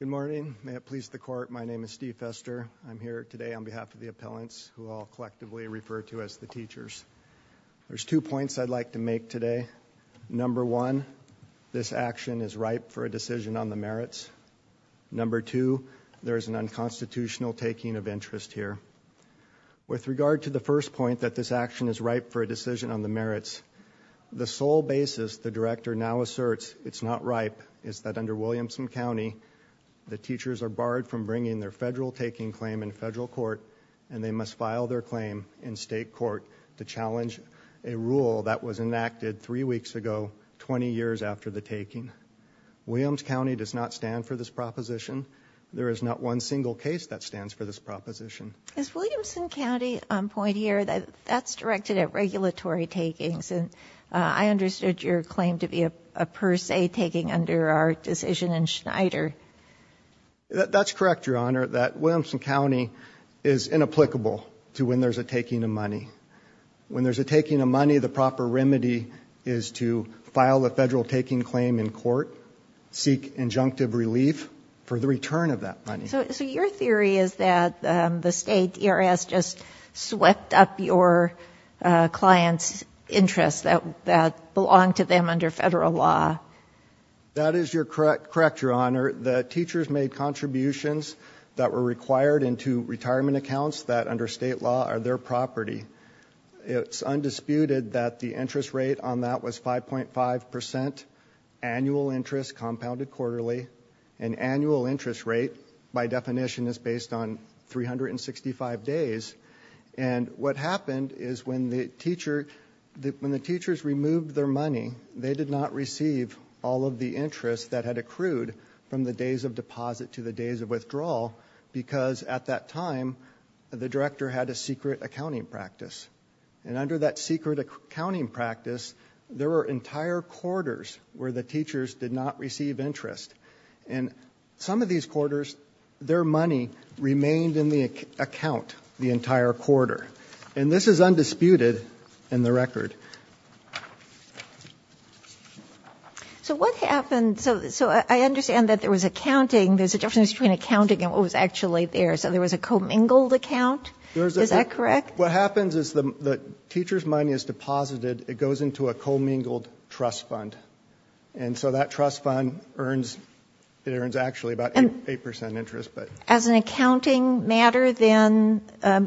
Good morning. May it please the court, my name is Steve Fester. I'm here today on behalf of the appellants who I'll collectively refer to as the teachers. There's two points I'd like to make today. Number one, this action is ripe for a decision on the merits. Number two, there is an unconstitutional taking of interest here. With regard to the first point that this action is ripe for a decision on the merits, the sole basis the director now is ripe is that under Williamson County, the teachers are barred from bringing their federal taking claim in federal court and they must file their claim in state court to challenge a rule that was enacted three weeks ago, 20 years after the taking. Williams County does not stand for this proposition. There is not one single case that stands for this proposition. Justice Ginsburg As Williamson County point here, that's directed at regulatory takings and I understood your claim to be a per se taking under our decision in Schneider. Steve Foster That's correct, Your Honor, that Williamson County is inapplicable to when there's a taking of money. When there's a taking of money, the proper remedy is to file a federal taking claim in court, seek injunctive relief for the return of that money. Justice Ginsburg So your theory is that the state, DRS, just swept up your client's interests that belong to them under federal law? Steve Foster That is correct, Your Honor. The teachers made contributions that were required into retirement accounts that under state law are their property. It's undisputed that the interest rate on that was 5.5 percent annual interest compounded quarterly. An annual interest rate, by definition, is based on 365 days. And what happened is when the teachers removed their money, they did not receive all of the interest that had accrued from the days of deposit to the days of withdrawal because at that time, the director had a secret accounting practice. And under that secret accounting practice, there were entire quarters where the teachers did not receive interest. And some of these quarters, their money remained in the account the entire quarter. And this is undisputed in the record. Justice Ginsburg So what happened, so I understand that there was accounting, there's a difference between accounting and what was actually there. So there was a commingled account? Is that correct? Steve Foster What happens is the teacher's money is deposited, it goes into a commingled trust fund. And so that trust fund earns, it earns actually about 8 percent interest. Justice Kagan As an accounting matter, then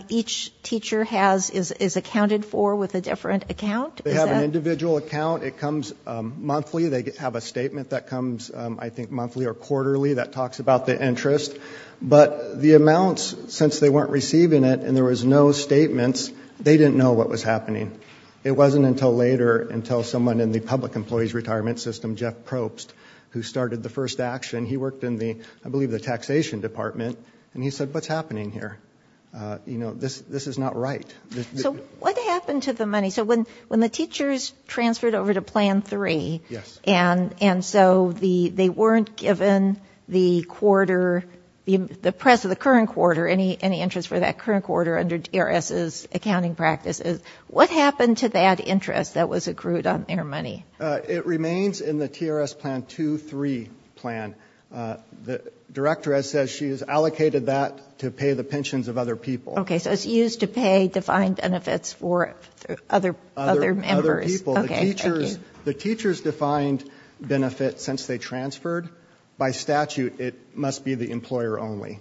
each teacher has, is accounted for with a different account? Steve Foster They have an individual account. It comes monthly. They have a statement that comes, I think, monthly or quarterly that talks about the interest. But the amounts, since they weren't receiving it and there was no statements, they didn't know what was happening. It wasn't until later, until someone in the public employees retirement system, Jeff Probst, who started the first action, he worked in the, I believe the taxation department. And he said, what's happening here? You know, this, this is not right. Justice Kagan So what happened to the money? So when, when the teachers transferred over to plan three, and, and so the, they weren't given the quarter, the, the press of the current quarter, any, any interest for that current quarter under TRS's accounting practices. What happened to that interest that was accrued on their money? Steve Foster It remains in the TRS plan two, three plan. The director has said she has allocated that to pay the pensions of other people. Justice Kagan Okay, so it's used to pay defined benefits for other, other members. Steve Foster Other, other people. The teachers, the teachers defined benefits since they transferred. By statute, it must be the employer only,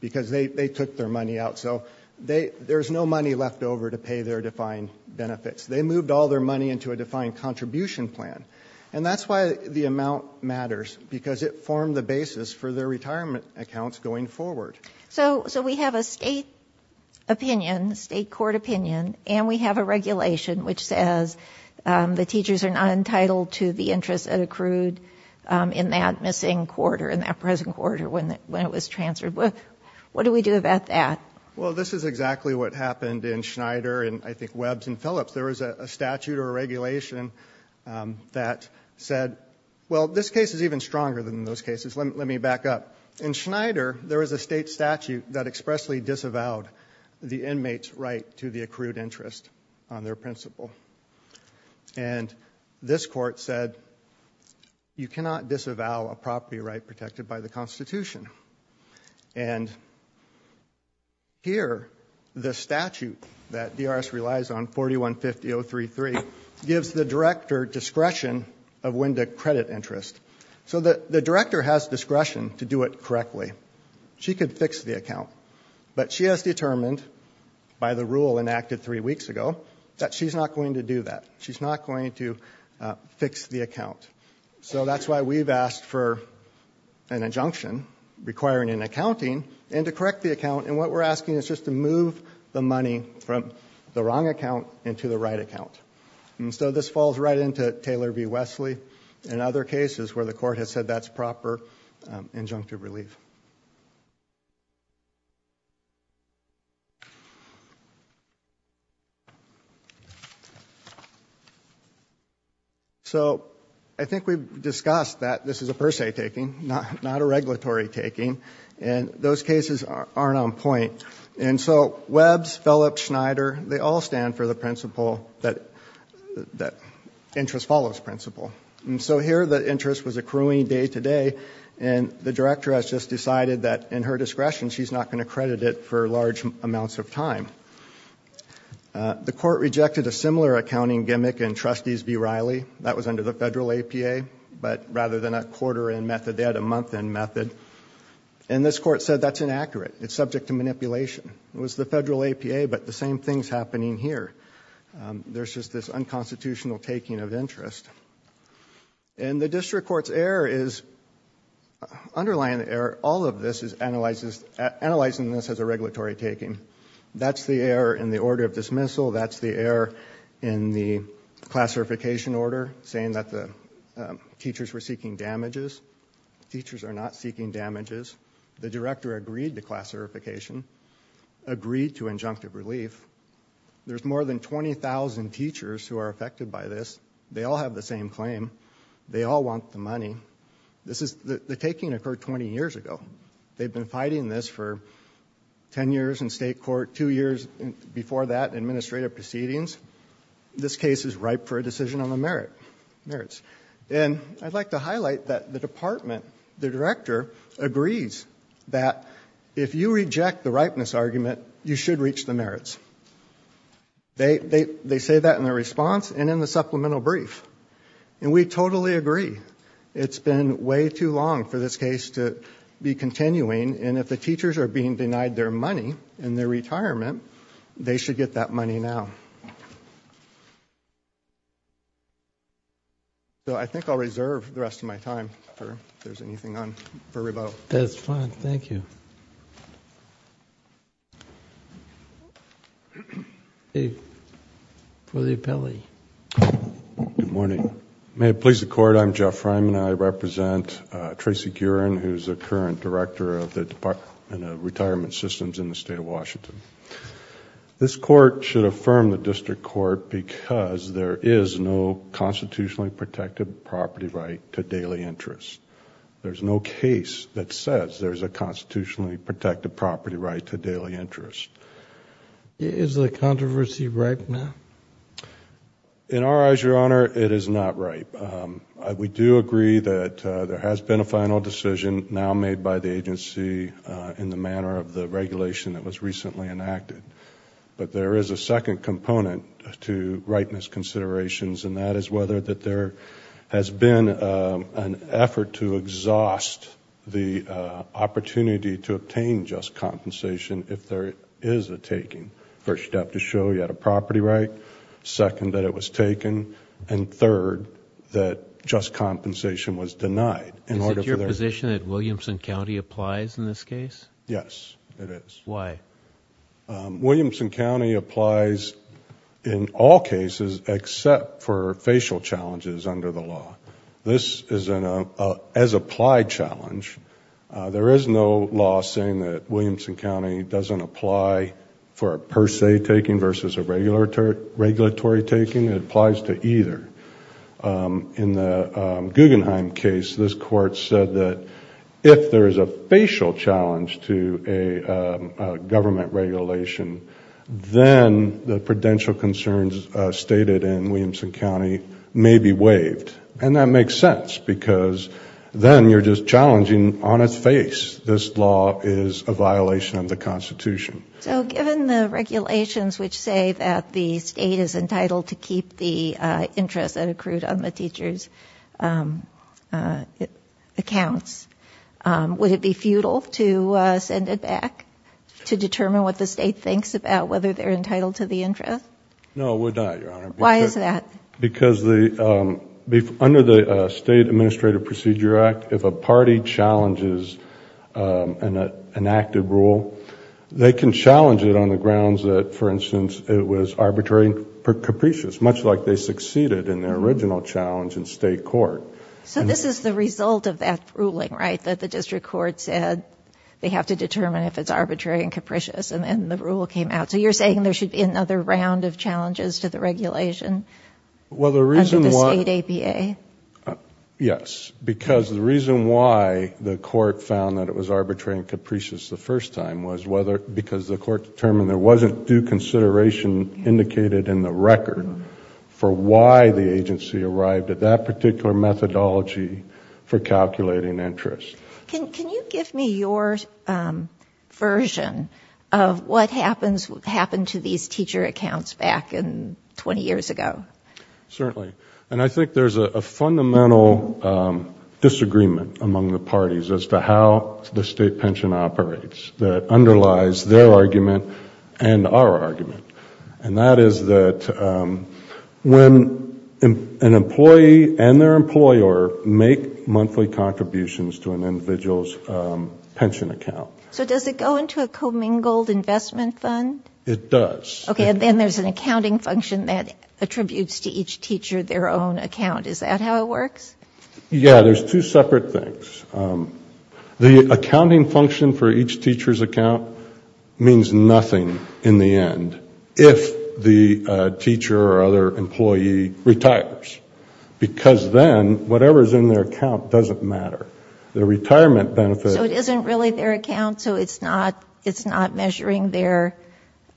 because they, they took their money out. So they, there's no money left over to pay their defined benefits. They moved all their money into a defined contribution plan. And that's why the amount matters, because it formed the basis for their retirement accounts going forward. Justice Kagan So, so we have a state opinion, state court opinion, and we have a regulation which says the teachers are not entitled to the interest that accrued in that missing quarter, in that present quarter when, when it was transferred. What do we do about that? Steve Foster Well, this is exactly what happened in Schneider and I think Webbs and Phillips. There was a statute or a regulation that said, well, this case is even stronger than those cases. Let me, let me back up. In Schneider, there was a state statute that expressly disavowed the inmate's right to the accrued interest on their principal. And this court said, you cannot disavow a property right protected by the Constitution. And here, the statute that DRS relies on, 4150.033, gives the director discretion of when to credit interest. So the, the director has discretion to do it She could fix the account, but she has determined by the rule enacted three weeks ago that she's not going to do that. She's not going to fix the account. So that's why we've asked for an injunction requiring an accounting and to correct the account. And what we're asking is just to move the money from the wrong account into the right account. And so this falls right into Taylor v. Wesley and other cases where the court has said that's proper injunctive relief. So I think we've discussed that this is a per se taking, not, not a regulatory taking. And those cases aren't on point. And so, Webbs, Phillips, Schneider, they all stand for the principle that, that interest follows principle. And so here, the interest was accruing day to day, and the director has just decided that in her discretion, she's not going to credit it for large amounts of time. The court rejected a similar accounting gimmick in Trustees v. Riley. That was under the federal APA, but rather than a quarter-end method, they had a month-end method. And this court said that's inaccurate. It's subject to manipulation. It was the federal APA, but the same thing's happening here. There's just this unconstitutional taking of interest. And the district court's error is, underlying the error, all of this is analyzing this as a regulatory taking. That's the error in the order of dismissal. That's the error in the classification order, saying that the teachers were seeking damages. Teachers are not seeking damages. The director agreed to classification, agreed to injunctive relief. There's more than 20,000 teachers who are affected by this. They all have the same claim. They all want the money. The taking occurred 20 years ago. They've been fighting this for 10 years in state court, two years before that in administrative proceedings. This case is ripe for a decision on the merits. And I'd like to highlight that the department, the director, agrees that if you reject the They say that in their response and in the supplemental brief. And we totally agree. It's been way too long for this case to be continuing. And if the teachers are being denied their money in their retirement, they should get that money now. So I think I'll reserve the rest of my time, if there's anything on, for rebuttal. That's fine. Thank you. For the appellee. Good morning. May it please the court, I'm Jeff Fryman. I represent Tracy Guren, who's the current director of the Department of Retirement Systems in the state of Washington. This court should affirm the district court because there is no constitutionally protected property right to daily interest. There's no case that says there's a constitutionally protected property right to daily interest. Is the controversy ripe now? In our eyes, Your Honor, it is not ripe. We do agree that there has been a final decision now made by the agency in the manner of the regulation that was recently enacted. But there is a second component to ripeness considerations, and that is whether there has been an effort to exhaust the opportunity to obtain just compensation if there is a taking. First, you have to show you had a property right. Second, that it was taken. And third, that just compensation was denied. Is it your position that Williamson County applies in this case? Yes, it is. Why? Williamson County applies in all cases except for facial challenges under the law. This is an as-applied challenge. There is no law saying that Williamson County doesn't apply for a per se taking versus a regulatory taking. It applies to either. In the Guggenheim case, this court said that if there is a facial challenge to a government regulation, then the prudential concerns stated in Williamson County may be waived. And that makes sense because then you are just challenging on its face that this law is a violation of the Constitution. So given the regulations which say that the state is entitled to keep the interest that accrued on the teacher's accounts, would it be futile to send it back to determine whether the state thinks about whether they are entitled to the interest? No, it would not, Your Honor. Why is that? Because under the State Administrative Procedure Act, if a party challenges an active rule, they can challenge it on the grounds that, for instance, it was arbitrary and capricious, much like they succeeded in their original challenge in state court. So this is the result of that ruling, right, that the district court said they have to do this, and then the rule came out. So you are saying there should be another round of challenges to the regulation under the state APA? Yes, because the reason why the court found that it was arbitrary and capricious the first time was because the court determined there wasn't due consideration indicated in the record for why the agency arrived at that particular methodology for calculating interest. Can you give me your version of what happened to these teacher accounts back 20 years ago? Certainly. And I think there is a fundamental disagreement among the parties as to how the state pension operates that underlies their argument and our argument. And that is that when an employee and their employer make monthly contributions to an individual's pension account. So does it go into a commingled investment fund? It does. Okay, and then there is an accounting function that attributes to each teacher their own account. Is that how it works? Yes, there are two separate things. The accounting function for each teacher's account means nothing in the end if the teacher or other employee retires. Because then, whatever is in their account doesn't matter. The retirement benefit... So it isn't really their account, so it's not measuring their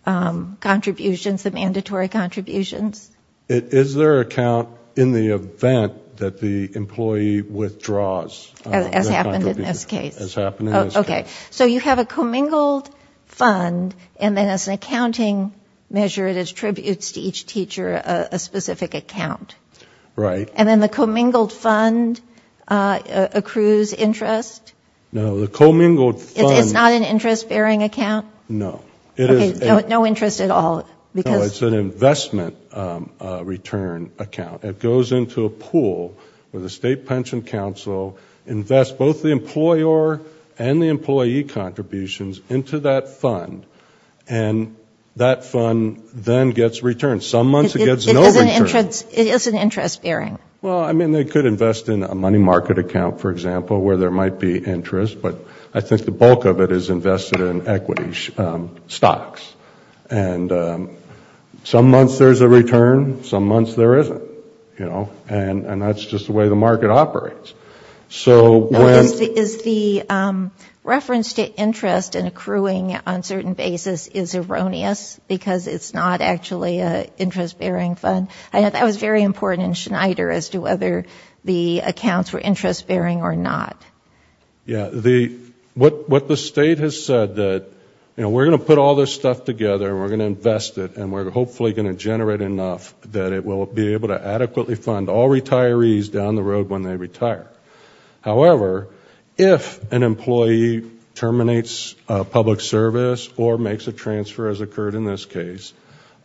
contributions, the mandatory contributions? It is their account in the event that the employee withdraws. As happened in this case. Okay, so you have a commingled fund and then as an accounting measure it attributes to each teacher a specific account. Right. And then the commingled fund accrues interest? No, the commingled fund... It's not an interest bearing account? No. Okay, no interest at all because... No, it's an investment return account. It goes into a pool where the state pension council invests both the employer and the employee contributions into that fund. And that fund then gets returned. Some months it gets no return. It is an interest bearing? Well, I mean, they could invest in a money market account, for example, where there might be interest, but I think the bulk of it is invested in equity stocks. And some months there's a return, some months there isn't. And that's just the way the market operates. Is the reference to interest in accruing on a certain basis is erroneous because it's not actually an interest bearing fund? That was very important in Schneider as to whether the accounts were interest bearing or not. What the state has said that we're going to put all this stuff together and we're going to generate enough that it will be able to adequately fund all retirees down the road when they retire. However, if an employee terminates public service or makes a transfer as occurred in this case,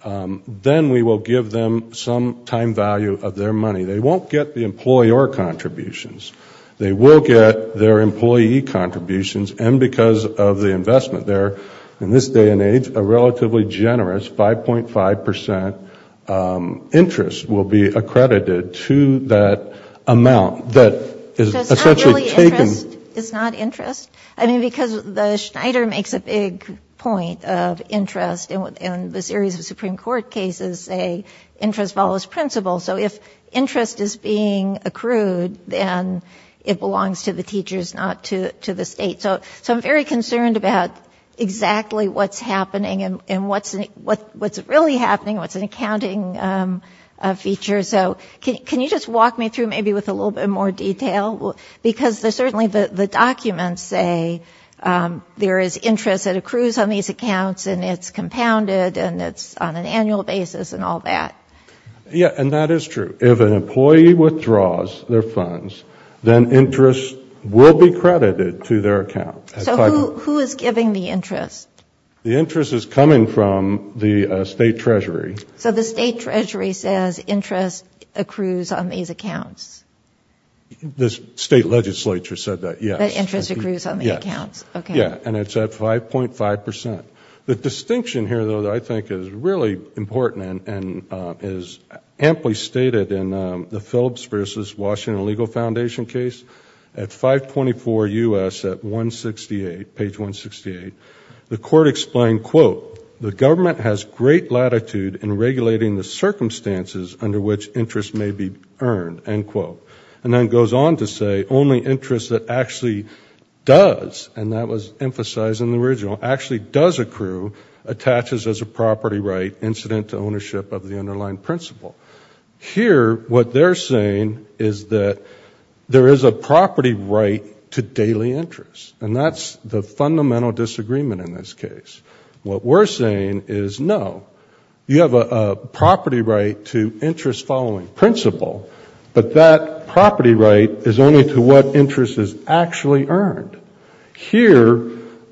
then we will give them some time value of their money. They won't get the employer contributions. They will get their employee contributions and because of the investment there, in this day and age, a relatively generous 5.5% interest will be accredited to that amount that is essentially taken. It's not interest? I mean, because the Schneider makes a big point of interest and the series of Supreme Court cases say interest follows principle. So if interest is being accrued, then it belongs to the teachers, not to the state. So I'm very concerned about exactly what's happening and what's really happening, what's an accounting feature. So can you just walk me through maybe with a little bit more detail? Because certainly the documents say there is interest that accrues on these accounts and it's compounded and it's on an annual basis and all that. Yeah, and that is true. If an employee withdraws their funds, then interest will be credited to their account. So who is giving the interest? The interest is coming from the State Treasury. So the State Treasury says interest accrues on these accounts? The State Legislature said that, yes. That interest accrues on the accounts, okay. Yeah, and it's at 5.5%. The distinction here, though, that I think is really important and is amply stated in the Phillips v. Washington Legal Foundation case at 524 U.S. at 168, page 168. The court explained, quote, the government has great latitude in regulating the circumstances under which interest may be earned, end quote. And then it goes on to say only interest that actually does, and that was emphasized in the original, actually does accrue, attaches as a property right incident to ownership of the underlying principle. Here what they're saying is that there is a property right to daily interest. And that's the fundamental disagreement in this case. What we're saying is no. You have a property right to interest following principle, but that property right is only to what interest is actually earned. Here,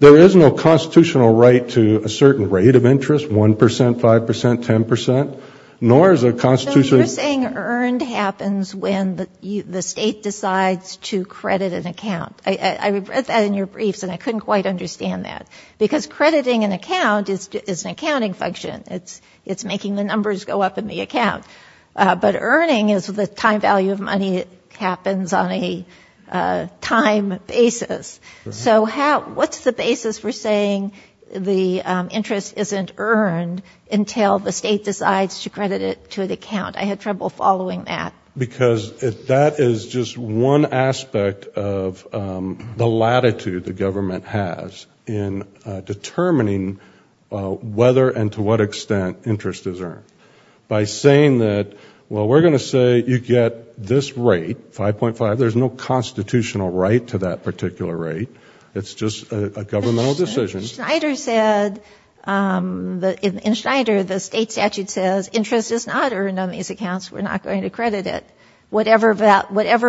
there is no constitutional right to a certain rate of interest, 1%, 5%, 10%, nor is there a constitutional... So you're saying earned happens when the state decides to credit an account. I read that in your briefs and I couldn't quite understand that. Because crediting an account is an accounting function. It's making the numbers go up in the account. But earning is the time value of money. It happens on a time basis. So what's the basis for saying the interest isn't earned until the state decides to credit it to an account? I had trouble following that. Because that is just one aspect of the latitude the government has in determining whether and to what extent interest is earned. By saying that, well, we're going to say you get this rate, 5.5, there's no constitutional right to that particular rate. It's just a governmental decision. Schneider said, in Schneider, the state statute says interest is not earned on these accounts. We're not going to credit it. Whatever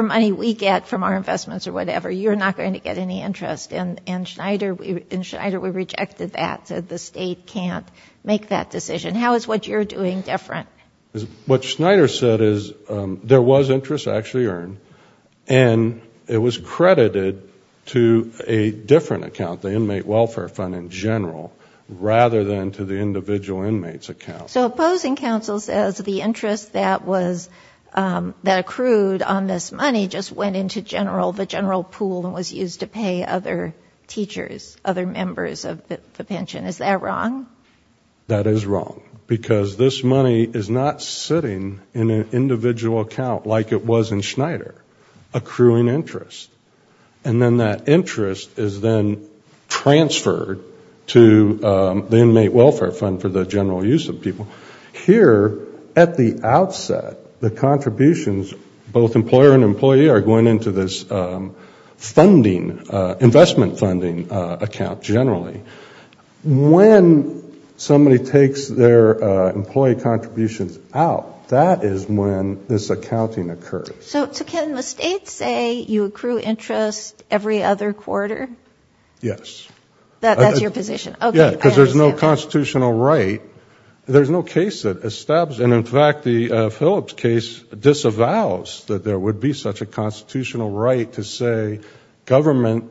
money we get from our investments or whatever, you're not going to get any interest. In Schneider, we rejected that, said the state can't make that decision. How is what you're doing different? What Schneider said is there was interest actually earned and it was credited to a different account, the Inmate Welfare Fund in general, rather than to the individual inmate's account. So opposing counsel says the interest that was, that accrued on this money just went into the general pool and was used to pay other teachers, other members of the pension. Is that wrong? That is wrong. Because this money is not sitting in an individual account like it was in Schneider, accruing interest. And then that interest is then transferred to the Inmate Welfare Fund for the general use of people. Here, at the outset, the contributions, both employer and employee, are going into this funding, investment funding account generally. When somebody takes their employee contributions out, that is when this accounting occurs. So can the state say you accrue interest every other quarter? Yes. That's your position? Yes, because there's no constitutional right. There's no case that establishes, and in fact the Phillips case disavows that there would be such a constitutional right to say government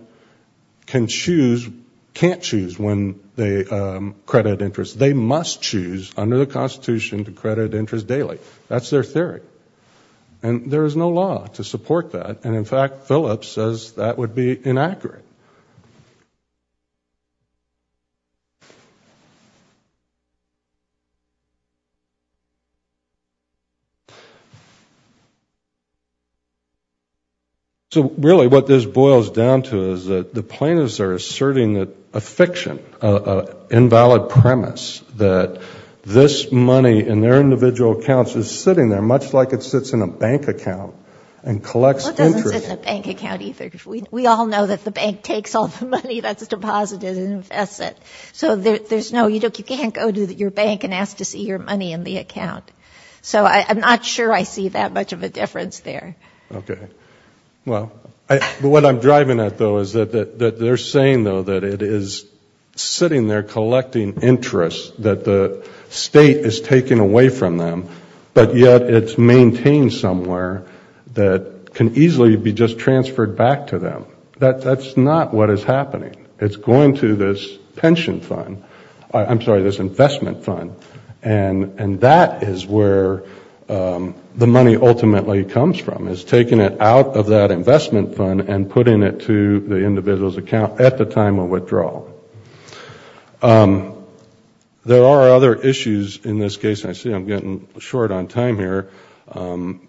can choose, can't choose when they credit interest. They must choose under the Constitution to credit interest daily. That's their theory. And there is no law to support that. And in fact, that would be inaccurate. So really what this boils down to is that the plaintiffs are asserting a fiction, an invalid premise that this money in their individual accounts is sitting there, much like it sits in a bank account and collects interest. It doesn't sit in a bank account either. We all know that the bank takes all the money that's deposited and invests it. So there's no, you can't go to your bank and ask to see your money in the account. So I'm not sure I see that much of a difference there. Okay. Well, what I'm driving at, though, is that they're saying, though, that it is sitting there collecting interest that the state is taking away from them, but yet it's maintained somewhere that can easily be just transferred back to them. That's not what is happening. It's going to this pension fund, I'm sorry, this investment fund. And that is where the money ultimately comes from, is taking it out of that investment fund and putting it to the individual's account at the time of withdrawal. There are other issues in this case. I see I'm getting short on time here.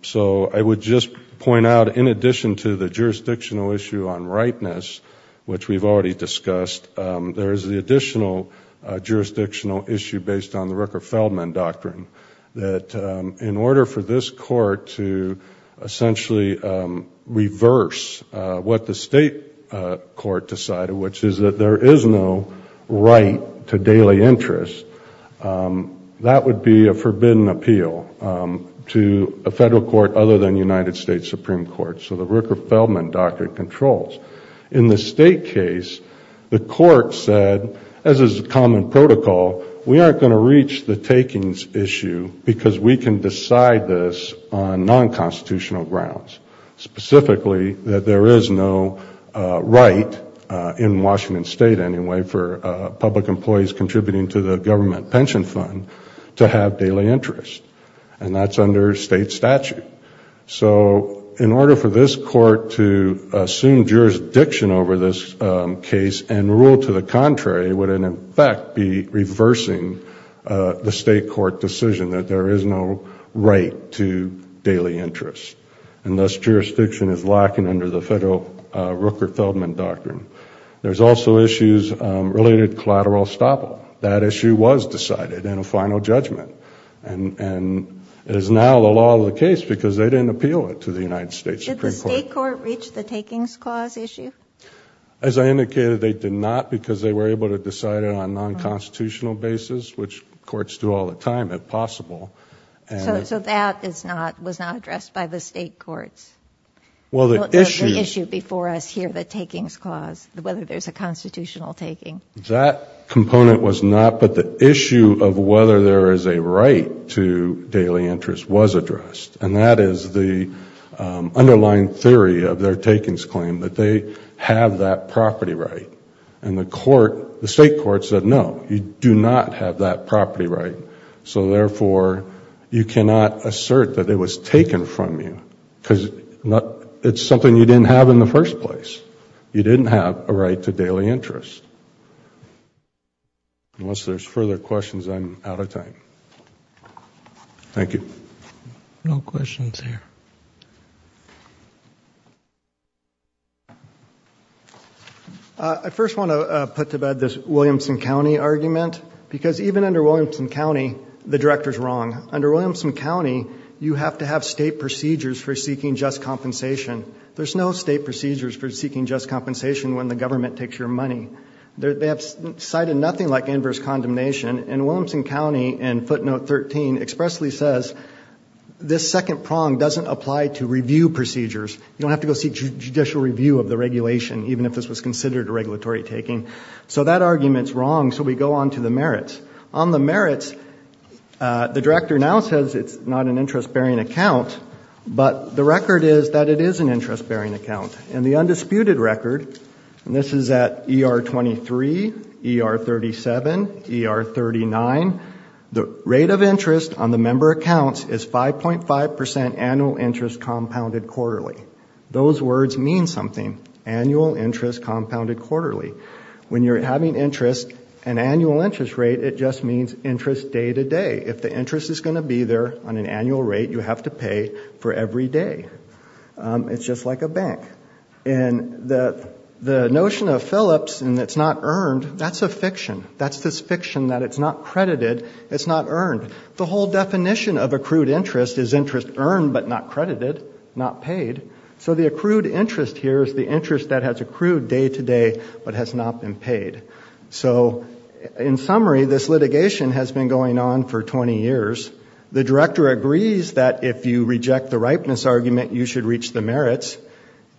So I would just point out, in addition to the jurisdictional issue on ripeness, which we've already discussed, there is the additional jurisdictional issue based on the Rucker-Feldman Doctrine, that in order for this Court to essentially reverse what the state court decided, which is that there is no right to daily interest, that would be a forbidden appeal to a Federal Court other than United States Supreme Court. So the Rucker-Feldman Doctrine controls. In the state case, the Court said, as is common protocol, we aren't going to reach the takings issue because we can decide this on non-constitutional grounds, specifically that there is no right in Washington State, anyway, for public employees contributing to the government pension fund to have daily interest. And that's under state statute. So in order for this Court to assume jurisdiction over this case and rule to the contrary, would in effect be reversing the state court decision that there is no right to daily interest. And thus, jurisdiction is lacking under the Federal Rucker-Feldman Doctrine. There's also issues related to collateral estoppel. That issue was decided in a final judgment and is now the law of the case because they didn't appeal it to the United States Supreme Court. Did the state court reach the takings clause issue? As I indicated, they did not because they were able to decide it on a non-constitutional basis, which courts do all the time, if possible. So that was not addressed by the state courts? Well, the issue... The issue before us here, the takings clause, whether there's a constitutional taking. That component was not, but the issue of whether there is a right to daily interest was addressed. And that is the underlying theory of their takings claim, that they have that property right. And the state court said, no, you do not have that property right. So therefore, you cannot assert that it was taken from you because it's something you didn't have in the first place. You didn't have a right to daily interest. Unless there's further questions, I'm out of time. Thank you. No questions here. I first want to put to bed this Williamson County argument because even under Williamson County, the director's wrong. Under Williamson County, you have to have state procedures for seeking just compensation. There's no state procedures for seeking just compensation when the government takes your money. They have cited nothing like inverse condemnation. And Williamson County in footnote 13 expressly says this second prong doesn't apply to review procedures. You don't have to go seek judicial review of the regulation, even if this was considered a regulatory taking. So that argument's wrong. So we go on to the merits. On the merits, the director now says it's not an interest bearing account, but the record is that it is an interest bearing account. And the undisputed record, and this is at ER 23, ER 37, ER 39, the rate of interest on the member accounts is 5.5% annual interest compounded quarterly. Those words mean something. Annual interest compounded quarterly. When you're having interest, an annual interest rate, it just means interest day to day. If the interest is going to be there on an annual rate, you have to pay for every day. It's just like a bank. And the notion of Phillips and it's not earned, that's a fiction. That's this fiction that it's not credited, it's not earned. The whole definition of accrued interest is interest earned but not credited, not paid. So the accrued interest here is the interest that has accrued day to day but has not been paid. So in summary, this litigation has been going on for 20 years. The director agrees that if you reject the ripeness argument, you should reach the merits.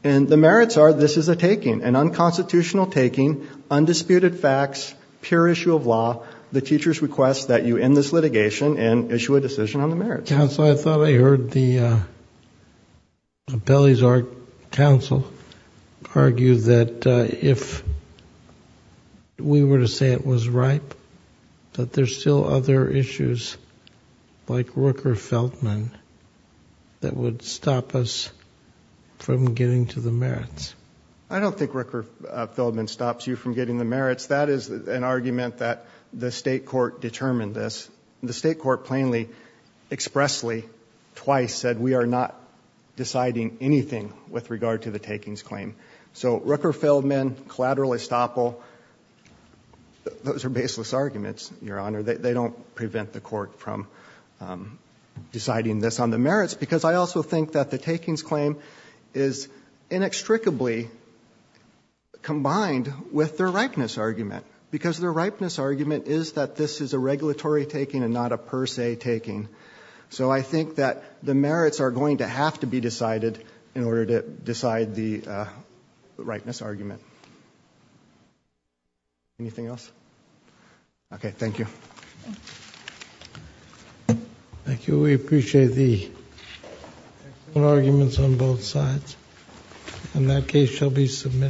And the merits are this is a taking, an unconstitutional taking, undisputed facts, pure issue of law. The teachers request that you end this litigation and issue a decision on the merits. Your Honor, counsel, I thought I heard the appellee's counsel argue that if we were to say it was ripe, that there's still other issues like Rooker-Feldman that would stop us from getting to the merits. I don't think Rooker-Feldman stops you from getting the merits. That is an argument that the state court determined this. The state court plainly, expressly, twice said we are not deciding anything with regard to the takings claim. So Rooker-Feldman, collateral estoppel, those are baseless arguments, Your Honor. They don't prevent the court from deciding this on the merits because I also think that the takings claim is inextricably combined with their ripeness argument because their ripeness argument is that this is a regulatory taking and not a per se taking. So I think that the merits are going to have to be decided in order to decide the ripeness argument. Anything else? Okay. Thank you. Thank you. We appreciate the arguments on both sides. And that case shall be submitted